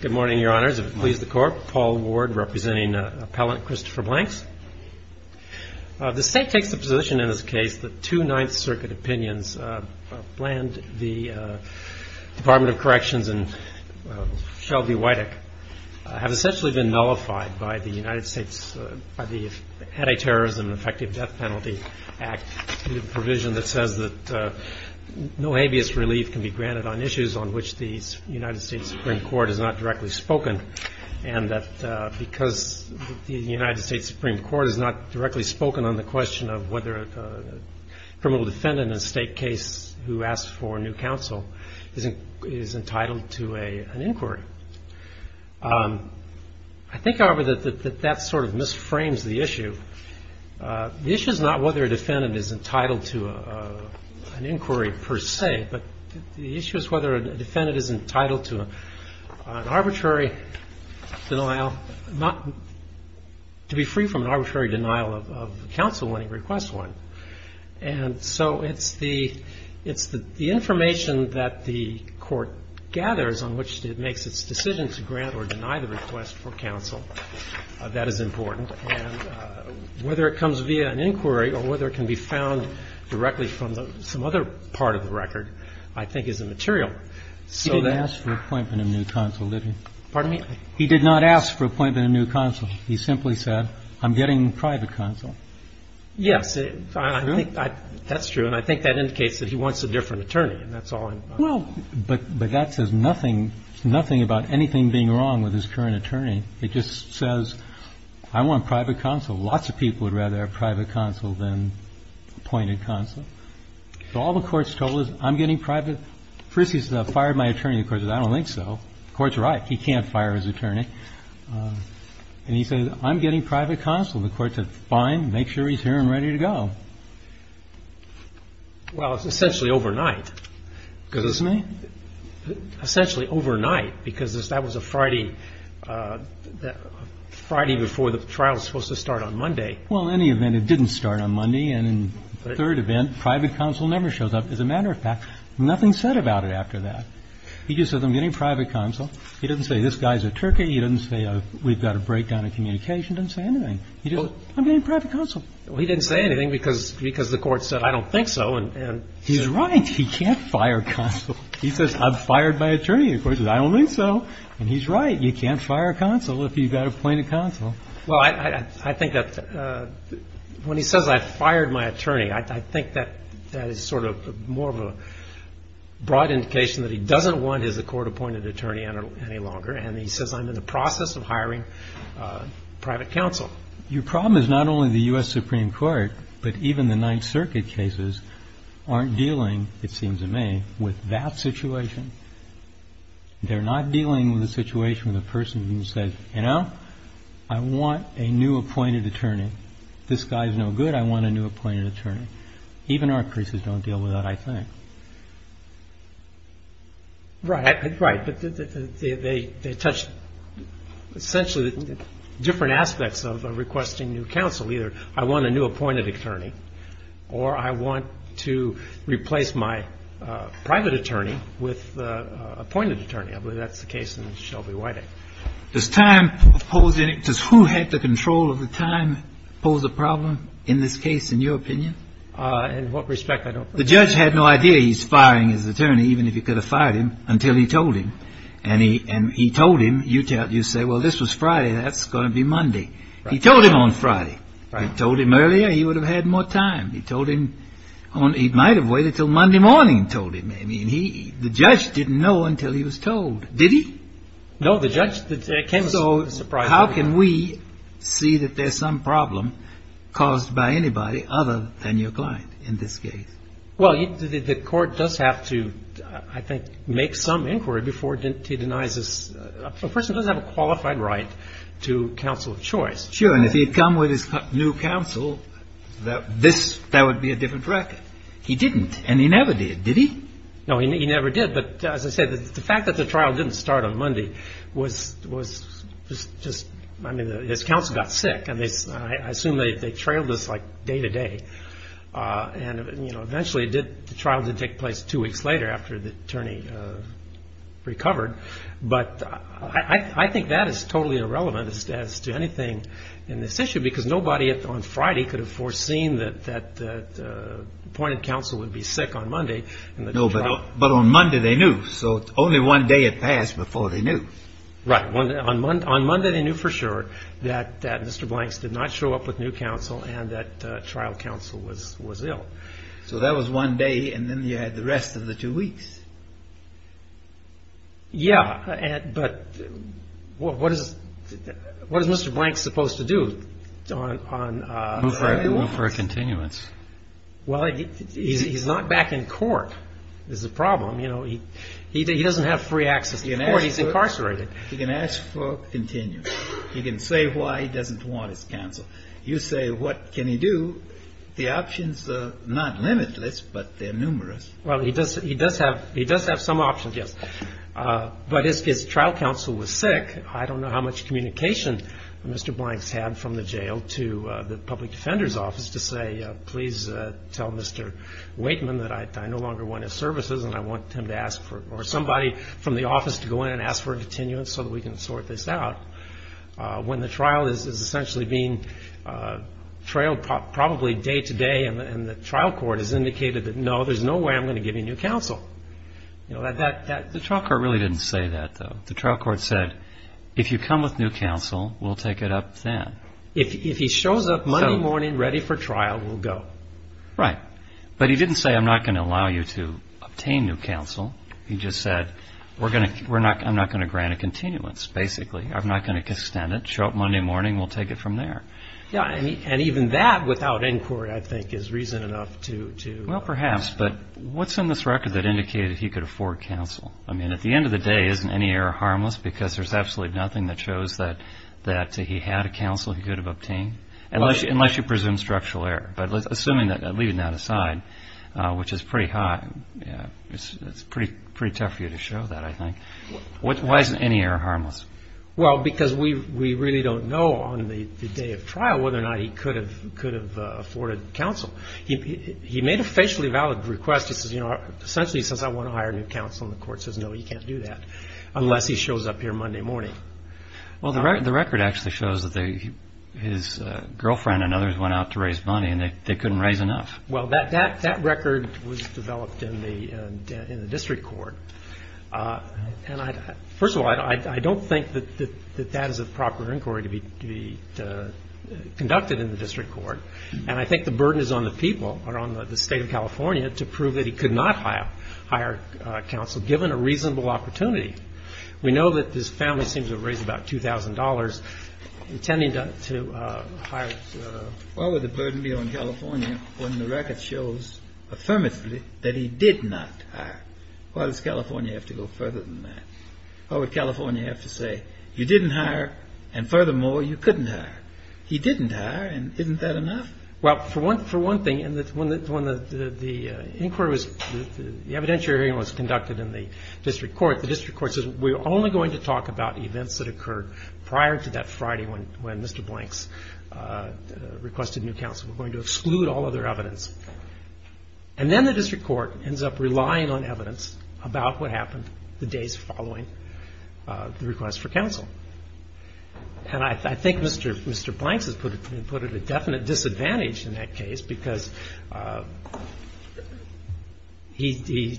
Good morning, Your Honors. If it pleases the Court, Paul Ward, representing Appellant Christopher Blanks. The State takes the position in this case that two Ninth Circuit opinions bland the Department of Corrections and Shelby-Wideck have essentially been nullified by the United States Anti-Terrorism and Effective Death Penalty Act, a provision that says that no habeas relief can be granted on issues on which the U.S. Supreme Court has not directly spoken, and that because the U.S. Supreme Court has not directly spoken on the question of whether a criminal defendant in a state case who asks for new counsel is entitled to an inquiry. I think, however, that that sort of misframes the issue. The issue is not whether a defendant is entitled to an inquiry per se, but the issue is whether a defendant is entitled to an arbitrary denial, to be free from an arbitrary denial of counsel when he requests one. And so it's the information that the Court gathers on which it makes its decision to grant or deny the request for counsel that is important. And whether it comes via an inquiry or whether it can be found directly from some other part of the record, I think, is immaterial. So that — He didn't ask for appointment of new counsel, did he? Pardon me? He did not ask for appointment of new counsel. He simply said, I'm getting private counsel. Yes. I think that's true, and I think that indicates that he wants a different attorney, and that's all I'm — Well, but that says nothing — nothing about anything being wrong with his current attorney. It just says, I want private counsel. Lots of people would rather have private counsel than appointed counsel. So all the Court's told is, I'm getting private — first he says, I've fired my attorney. The Court says, I don't think so. The Court's right. He can't fire his attorney. And he says, I'm getting private counsel. The Court said, fine, make sure he's here and ready to go. Well, it's essentially overnight. Excuse me? Essentially overnight, because that was a Friday — Friday before the trial was supposed to start on Monday. Well, in any event, it didn't start on Monday. And in the third event, private counsel never shows up. As a matter of fact, nothing said about it after that. He just said, I'm getting private counsel. He didn't say, this guy's a turkey. He didn't say, we've got a breakdown in communication. He didn't say anything. He just said, I'm getting private counsel. Well, he didn't say anything because the Court said, I don't think so. He's right. He can't fire counsel. He says, I'm fired by attorney. The Court says, I don't think so. And he's right. You can't fire counsel if you've got appointed counsel. Well, I think that — when he says, I've fired my attorney, I think that that is sort of more of a broad indication that he doesn't want his court-appointed attorney any longer. And he says, I'm in the process of hiring private counsel. Your problem is not only the U.S. Supreme Court, but even the Ninth Circuit cases aren't dealing, it seems to me, with that situation. They're not dealing with a situation where the person says, you know, I want a new appointed attorney. This guy is no good. I want a new appointed attorney. Even our cases don't deal with that, I think. Right. Right. But they touch essentially different aspects of requesting new counsel. Either I want a new appointed attorney or I want to replace my private attorney with appointed attorney. I believe that's the case in the Shelby White Act. Does time pose any — does who had the control of the time pose a problem in this case, in your opinion? In what respect? I don't know. I have no idea he's firing his attorney, even if he could have fired him, until he told him. And he told him. You say, well, this was Friday. That's going to be Monday. He told him on Friday. He told him earlier, he would have had more time. He told him — he might have waited until Monday morning and told him. I mean, he — the judge didn't know until he was told. Did he? No, the judge — it came as a surprise to me. So how can we see that there's some problem caused by anybody other than your client in this case? Well, the court does have to, I think, make some inquiry before he denies this. A person does have a qualified right to counsel of choice. Sure. And if he had come with his new counsel, this — that would be a different record. He didn't. And he never did. Did he? No, he never did. But as I said, the fact that the trial didn't start on Monday was just — I mean, his counsel got sick. And they — I assume they trailed this, like, day to day. And, you know, eventually it did — the trial did take place two weeks later after the attorney recovered. But I think that is totally irrelevant as to anything in this issue, because nobody on Friday could have foreseen that appointed counsel would be sick on Monday. No, but on Monday they knew. So only one day had passed before they knew. Right. On Monday they knew for sure that Mr. Blanks did not show up with new counsel and that trial counsel was ill. So that was one day, and then you had the rest of the two weeks. Yeah. But what is Mr. Blanks supposed to do on — Move for a continuance. Well, he's not back in court is the problem. You know, he doesn't have free access to court. He's incarcerated. He can ask for a continuance. He can say why he doesn't want his counsel. You say, what can he do? The options are not limitless, but they're numerous. Well, he does have — he does have some options, yes. But his trial counsel was sick. I don't know how much communication Mr. Blanks had from the jail to the public defender's office to say, please tell Mr. Waitman that I no longer want his services and I want him to ask for — for a continuance so that we can sort this out. When the trial is essentially being trailed probably day to day and the trial court has indicated that, no, there's no way I'm going to give you new counsel. The trial court really didn't say that, though. The trial court said, if you come with new counsel, we'll take it up then. If he shows up Monday morning ready for trial, we'll go. Right. But he didn't say, I'm not going to allow you to obtain new counsel. He just said, we're going to — I'm not going to grant a continuance, basically. I'm not going to extend it. Show up Monday morning, we'll take it from there. Yeah, and even that without inquiry, I think, is reason enough to — Well, perhaps, but what's in this record that indicated he could afford counsel? I mean, at the end of the day, isn't any error harmless because there's absolutely nothing that shows that he had a counsel he could have obtained? Unless you presume structural error. But assuming that, leaving that aside, which is pretty high, it's pretty tough for you to show that, I think. Why isn't any error harmless? Well, because we really don't know on the day of trial whether or not he could have afforded counsel. He made a facially valid request. He says, you know, essentially he says, I want to hire new counsel, and the court says, no, you can't do that unless he shows up here Monday morning. Well, the record actually shows that his girlfriend and others went out to raise money, and they couldn't raise enough. Well, that record was developed in the district court. And first of all, I don't think that that is a proper inquiry to be conducted in the district court. And I think the burden is on the people, or on the State of California, to prove that he could not hire counsel, given a reasonable opportunity. We know that his family seems to have raised about $2,000 intending to hire — Why would the burden be on California when the record shows affirmatively that he did not hire? Why does California have to go further than that? Why would California have to say, you didn't hire, and furthermore, you couldn't hire? He didn't hire, and isn't that enough? Well, for one thing, when the inquiry was — the evidentiary hearing was conducted in the district court, the district court said, we're only going to talk about events that occurred prior to that Friday when Mr. Blanks requested new counsel. We're going to exclude all other evidence. And then the district court ends up relying on evidence about what happened the days following the request for counsel. And I think Mr. Blanks has put it at definite disadvantage in that case, because he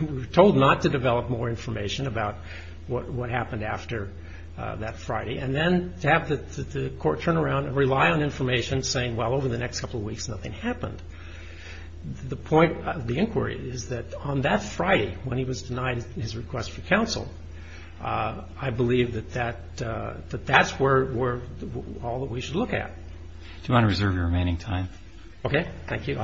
was told not to develop more information about what happened after that Friday. And then to have the court turn around and rely on information saying, well, over the next couple of weeks, nothing happened. The point of the inquiry is that on that Friday when he was denied his request for counsel, I believe that that's where all that we should look at. If you want to reserve your remaining time. Okay, thank you.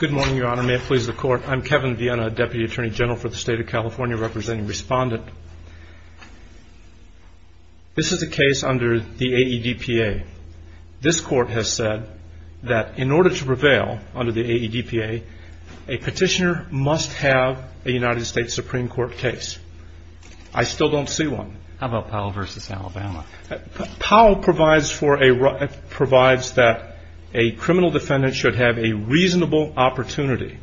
Good morning, Your Honor. May it please the Court. I'm Kevin Viena, Deputy Attorney General for the State of California, representing Respondent. This is a case under the AEDPA. This Court has said that in order to prevail under the AEDPA, a petitioner must have a United States Supreme Court case. I still don't see one. How about Powell v. Alabama? Powell provides that a criminal defendant should have a reasonable opportunity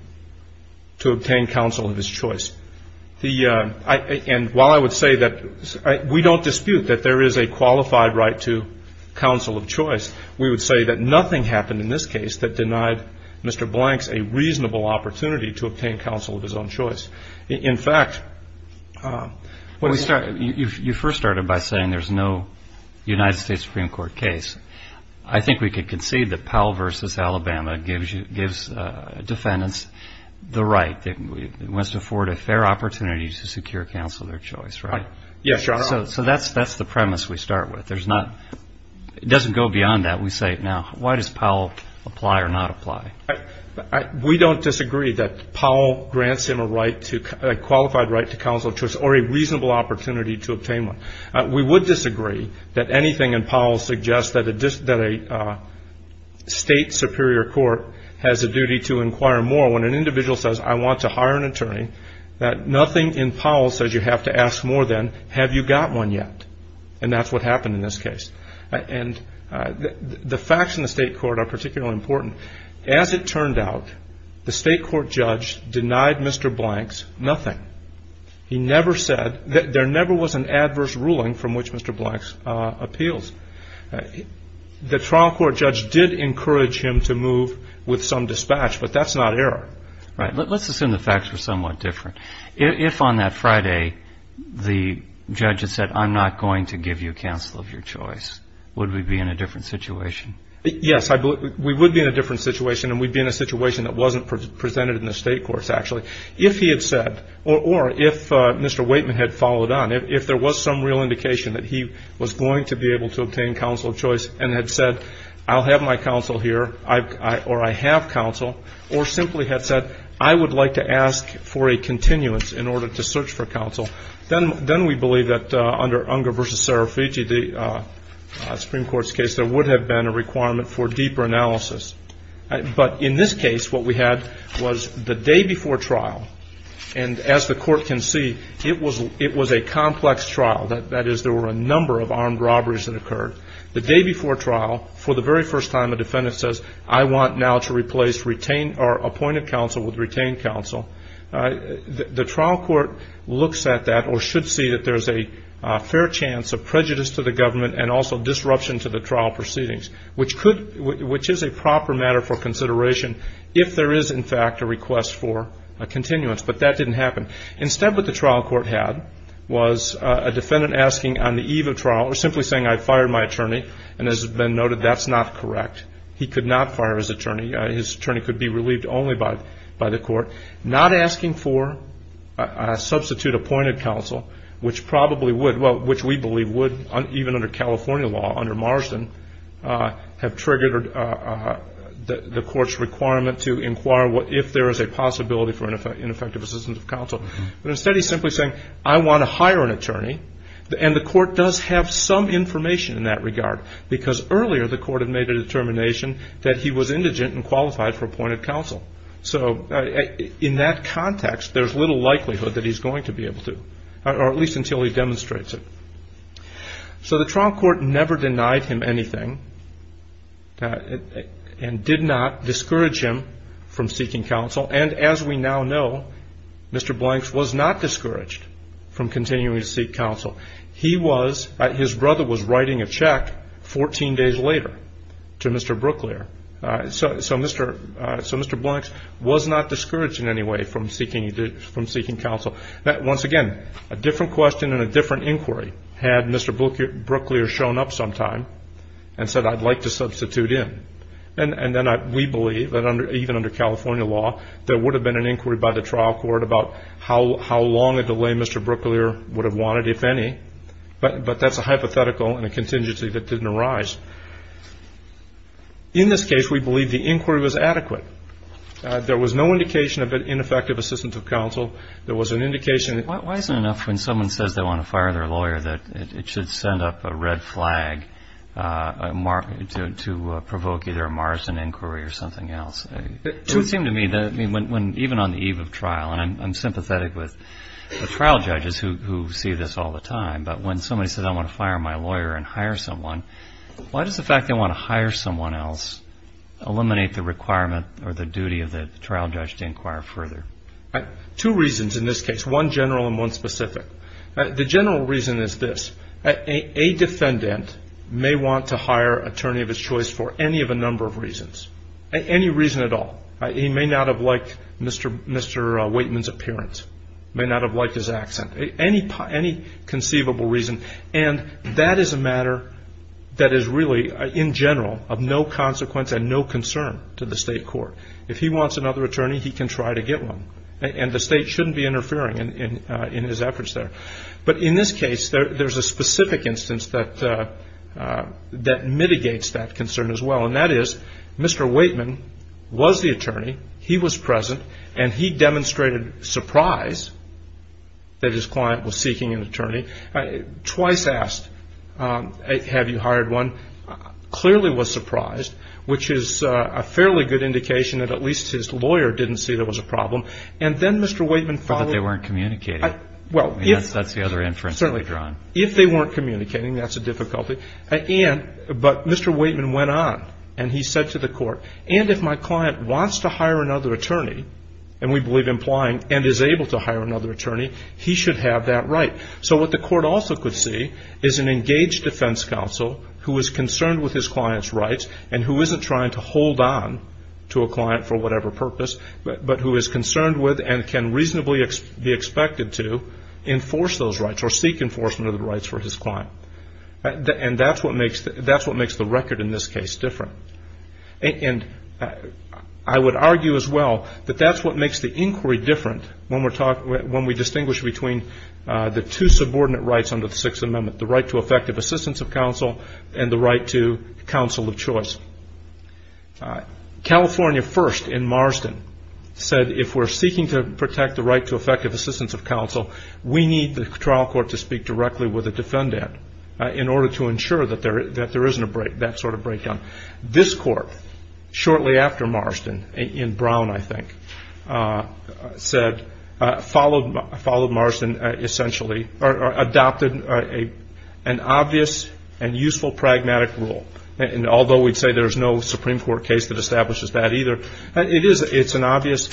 to obtain counsel of his choice. And while I would say that we don't dispute that there is a qualified right to counsel of choice, we would say that nothing happened in this case that denied Mr. Blanks a reasonable opportunity to obtain counsel of his own choice. In fact, when we start – You first started by saying there's no United States Supreme Court case. I think we could concede that Powell v. Alabama gives defendants the right. It wants to afford a fair opportunity to secure counsel of their choice, right? Yes, Your Honor. So that's the premise we start with. It doesn't go beyond that. We say, now, why does Powell apply or not apply? We don't disagree that Powell grants him a qualified right to counsel of choice or a reasonable opportunity to obtain one. We would disagree that anything in Powell suggests that a state superior court has a duty to inquire more. When an individual says, I want to hire an attorney, that nothing in Powell says you have to ask more than, have you got one yet? And that's what happened in this case. And the facts in the state court are particularly important. As it turned out, the state court judge denied Mr. Blanks nothing. He never said – there never was an adverse ruling from which Mr. Blanks appeals. The trial court judge did encourage him to move with some dispatch, but that's not error. Right. Let's assume the facts were somewhat different. If on that Friday the judge had said, I'm not going to give you counsel of your choice, would we be in a different situation? Yes. We would be in a different situation, and we'd be in a situation that wasn't presented in the state courts, actually. If he had said, or if Mr. Waitman had followed on, if there was some real indication that he was going to be able to obtain counsel of choice and had said, I'll have my counsel here, or I have counsel, or simply had said, I would like to ask for a continuance in order to search for counsel, then we believe that under Unger v. Serafici, the Supreme Court's case, there would have been a requirement for deeper analysis. But in this case, what we had was the day before trial, and as the court can see, it was a complex trial. That is, there were a number of armed robberies that occurred. The day before trial, for the very first time, a defendant says, I want now to replace retained or appointed counsel with retained counsel. The trial court looks at that or should see that there's a fair chance of prejudice to the government and also disruption to the trial proceedings, which is a proper matter for consideration if there is, in fact, a request for a continuance. But that didn't happen. Instead, what the trial court had was a defendant asking on the eve of trial, or simply saying, I fired my attorney, and as has been noted, that's not correct. He could not fire his attorney. His attorney could be relieved only by the court. Not asking for a substitute appointed counsel, which probably would, well, which we believe would, even under California law, under Marsden, have triggered the court's requirement to inquire if there is a possibility for ineffective assistance of counsel. But instead, he's simply saying, I want to hire an attorney. And the court does have some information in that regard, because earlier the court had made a determination that he was indigent and qualified for appointed counsel. So in that context, there's little likelihood that he's going to be able to, or at least until he demonstrates it. So the trial court never denied him anything and did not discourage him from seeking counsel. And as we now know, Mr. Blanks was not discouraged from continuing to seek counsel. He was, his brother was writing a check 14 days later to Mr. Brooklier. So Mr. Blanks was not discouraged in any way from seeking counsel. Once again, a different question and a different inquiry had Mr. Brooklier shown up sometime and said, I'd like to substitute in. And then we believe that even under California law, there would have been an inquiry by the trial court about how long a delay Mr. Brooklier would have wanted, if any. But that's a hypothetical and a contingency that didn't arise. In this case, we believe the inquiry was adequate. There was no indication of ineffective assistance of counsel. There was an indication. Why isn't it enough when someone says they want to fire their lawyer that it should send up a red flag to provoke either a morrison inquiry or something else? It would seem to me that even on the eve of trial, and I'm sympathetic with the trial judges who see this all the time, but when somebody says I want to fire my lawyer and hire someone, why does the fact they want to hire someone else eliminate the requirement or the duty of the trial judge to inquire further? Two reasons in this case, one general and one specific. The general reason is this. A defendant may want to hire an attorney of his choice for any of a number of reasons, any reason at all. He may not have liked Mr. Waitman's appearance, may not have liked his accent. Any conceivable reason, and that is a matter that is really in general of no consequence and no concern to the state court. If he wants another attorney, he can try to get one, and the state shouldn't be interfering in his efforts there. But in this case, there's a specific instance that mitigates that concern as well, and that is Mr. Waitman was the attorney. He was present, and he demonstrated surprise that his client was seeking an attorney. Twice asked, have you hired one? Clearly was surprised, which is a fairly good indication that at least his lawyer didn't see there was a problem. And then Mr. Waitman followed. But they weren't communicating. Well, if. That's the other inference that we've drawn. If they weren't communicating, that's a difficulty. But Mr. Waitman went on, and he said to the court, and if my client wants to hire another attorney, and we believe implying and is able to hire another attorney, he should have that right. So what the court also could see is an engaged defense counsel who is concerned with his client's rights and who isn't trying to hold on to a client for whatever purpose, but who is concerned with and can reasonably be expected to enforce those rights or seek enforcement of the rights for his client. And that's what makes the record in this case different. And I would argue as well that that's what makes the inquiry different when we distinguish between the two subordinate rights under the Sixth Amendment, the right to effective assistance of counsel and the right to counsel of choice. California first in Marsden said if we're seeking to protect the right to effective assistance of counsel, we need the trial court to speak directly with a defendant in order to ensure that there isn't that sort of breakdown. This court, shortly after Marsden, in Brown, I think, said, followed Marsden essentially, or adopted an obvious and useful pragmatic rule. And although we'd say there's no Supreme Court case that establishes that either, it's an obvious,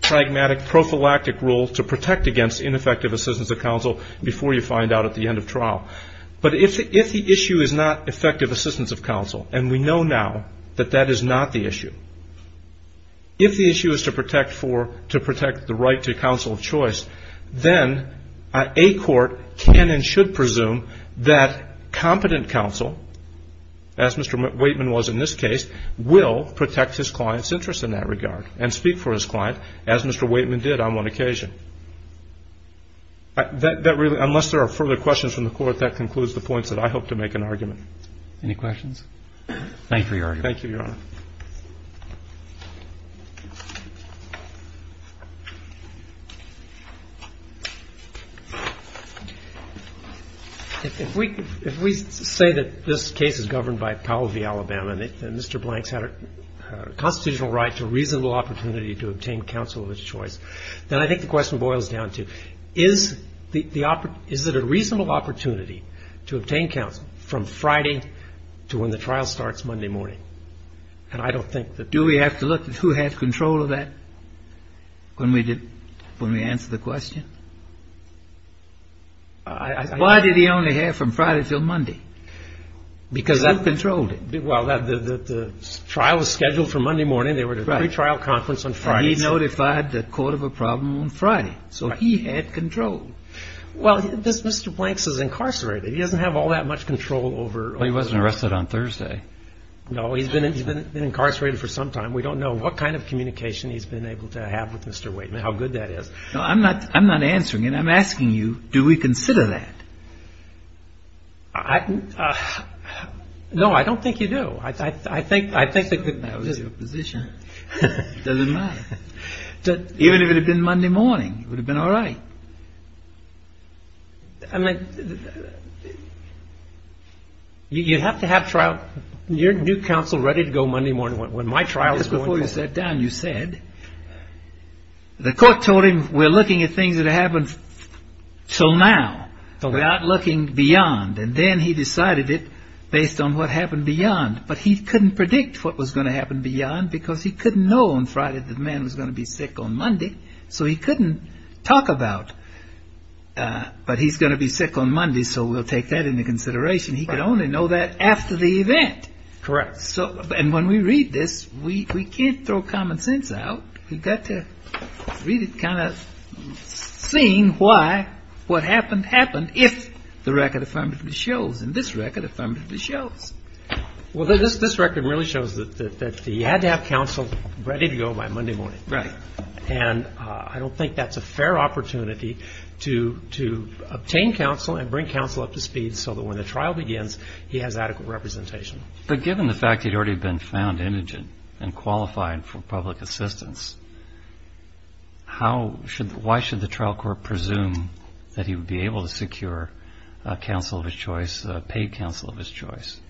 pragmatic, prophylactic rule to protect against ineffective assistance of counsel before you find out at the end of trial. But if the issue is not effective assistance of counsel, and we know now that that is not the issue, if the issue is to protect the right to counsel of choice, then a court can and should presume that competent counsel, as Mr. Waitman was in this case, will protect his client's interest in that regard and speak for his client, as Mr. Waitman did on one occasion. Unless there are further questions from the Court, that concludes the points that I hope to make an argument. Any questions? Thank you, Your Honor. Thank you, Your Honor. If we say that this case is governed by Powell v. Alabama, and Mr. Blank's had a constitutional right to reasonable opportunity to obtain counsel of his choice, then I think the question boils down to, is it a reasonable opportunity to obtain counsel from Friday to when the trial starts Monday morning? And I don't think that the... Do we have to look at who had control of that when we answer the question? Why did he only have from Friday till Monday? Because who controlled it? Well, the trial was scheduled for Monday morning. They were at a pretrial conference on Friday. He notified the court of a problem on Friday. So he had control. Well, Mr. Blank's is incarcerated. He doesn't have all that much control over... Well, he wasn't arrested on Thursday. No, he's been incarcerated for some time. We don't know what kind of communication he's been able to have with Mr. Waitman, how good that is. No, I'm not answering it. I'm asking you, do we consider that? No, I don't think you do. That was your position. It doesn't matter. Even if it had been Monday morning, it would have been all right. I mean, you have to have trial... You're new counsel ready to go Monday morning. When my trial is going to... Just before you sat down, you said, the court told him we're looking at things that happened till now, without looking beyond. And then he decided it based on what happened beyond. But he couldn't predict what was going to happen beyond, because he couldn't know on Friday that the man was going to be sick on Monday. So he couldn't talk about, but he's going to be sick on Monday, so we'll take that into consideration. He could only know that after the event. Correct. And when we read this, we can't throw common sense out. We've got to really kind of see why what happened happened, if the record affirmatively shows. And this record affirmatively shows. Well, this record really shows that he had to have counsel ready to go by Monday morning. Right. And I don't think that's a fair opportunity to obtain counsel and bring counsel up to speed so that when the trial begins, he has adequate representation. But given the fact he'd already been found indigent and qualified for public assistance, why should the trial court presume that he would be able to secure counsel of his choice, paid counsel of his choice?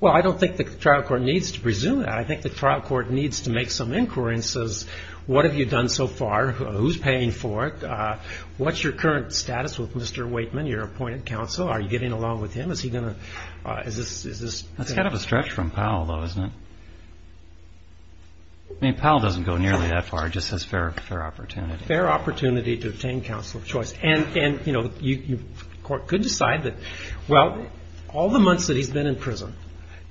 Well, I don't think the trial court needs to presume that. I think the trial court needs to make some inquiry and says, what have you done so far, who's paying for it, what's your current status with Mr. Waitman, your appointed counsel, are you getting along with him, what is he going to, is this. That's kind of a stretch from Powell though, isn't it? I mean, Powell doesn't go nearly that far, just says fair opportunity. Fair opportunity to obtain counsel of choice. And, you know, the court could decide that, well, all the months that he's been in prison,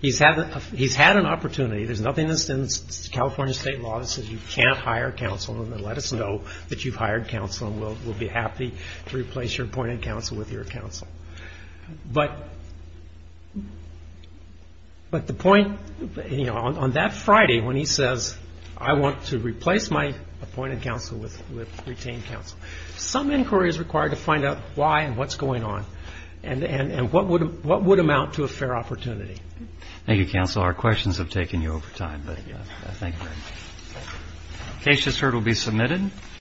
he's had an opportunity, there's nothing that's in California state law that says you can't hire counsel and then let us know that you've hired counsel and we'll be happy to replace your appointed counsel with your counsel. But the point, you know, on that Friday when he says, I want to replace my appointed counsel with retained counsel, some inquiry is required to find out why and what's going on and what would amount to a fair opportunity. Thank you, counsel. Our questions have taken you over time, but thank you very much. The case just heard will be submitted.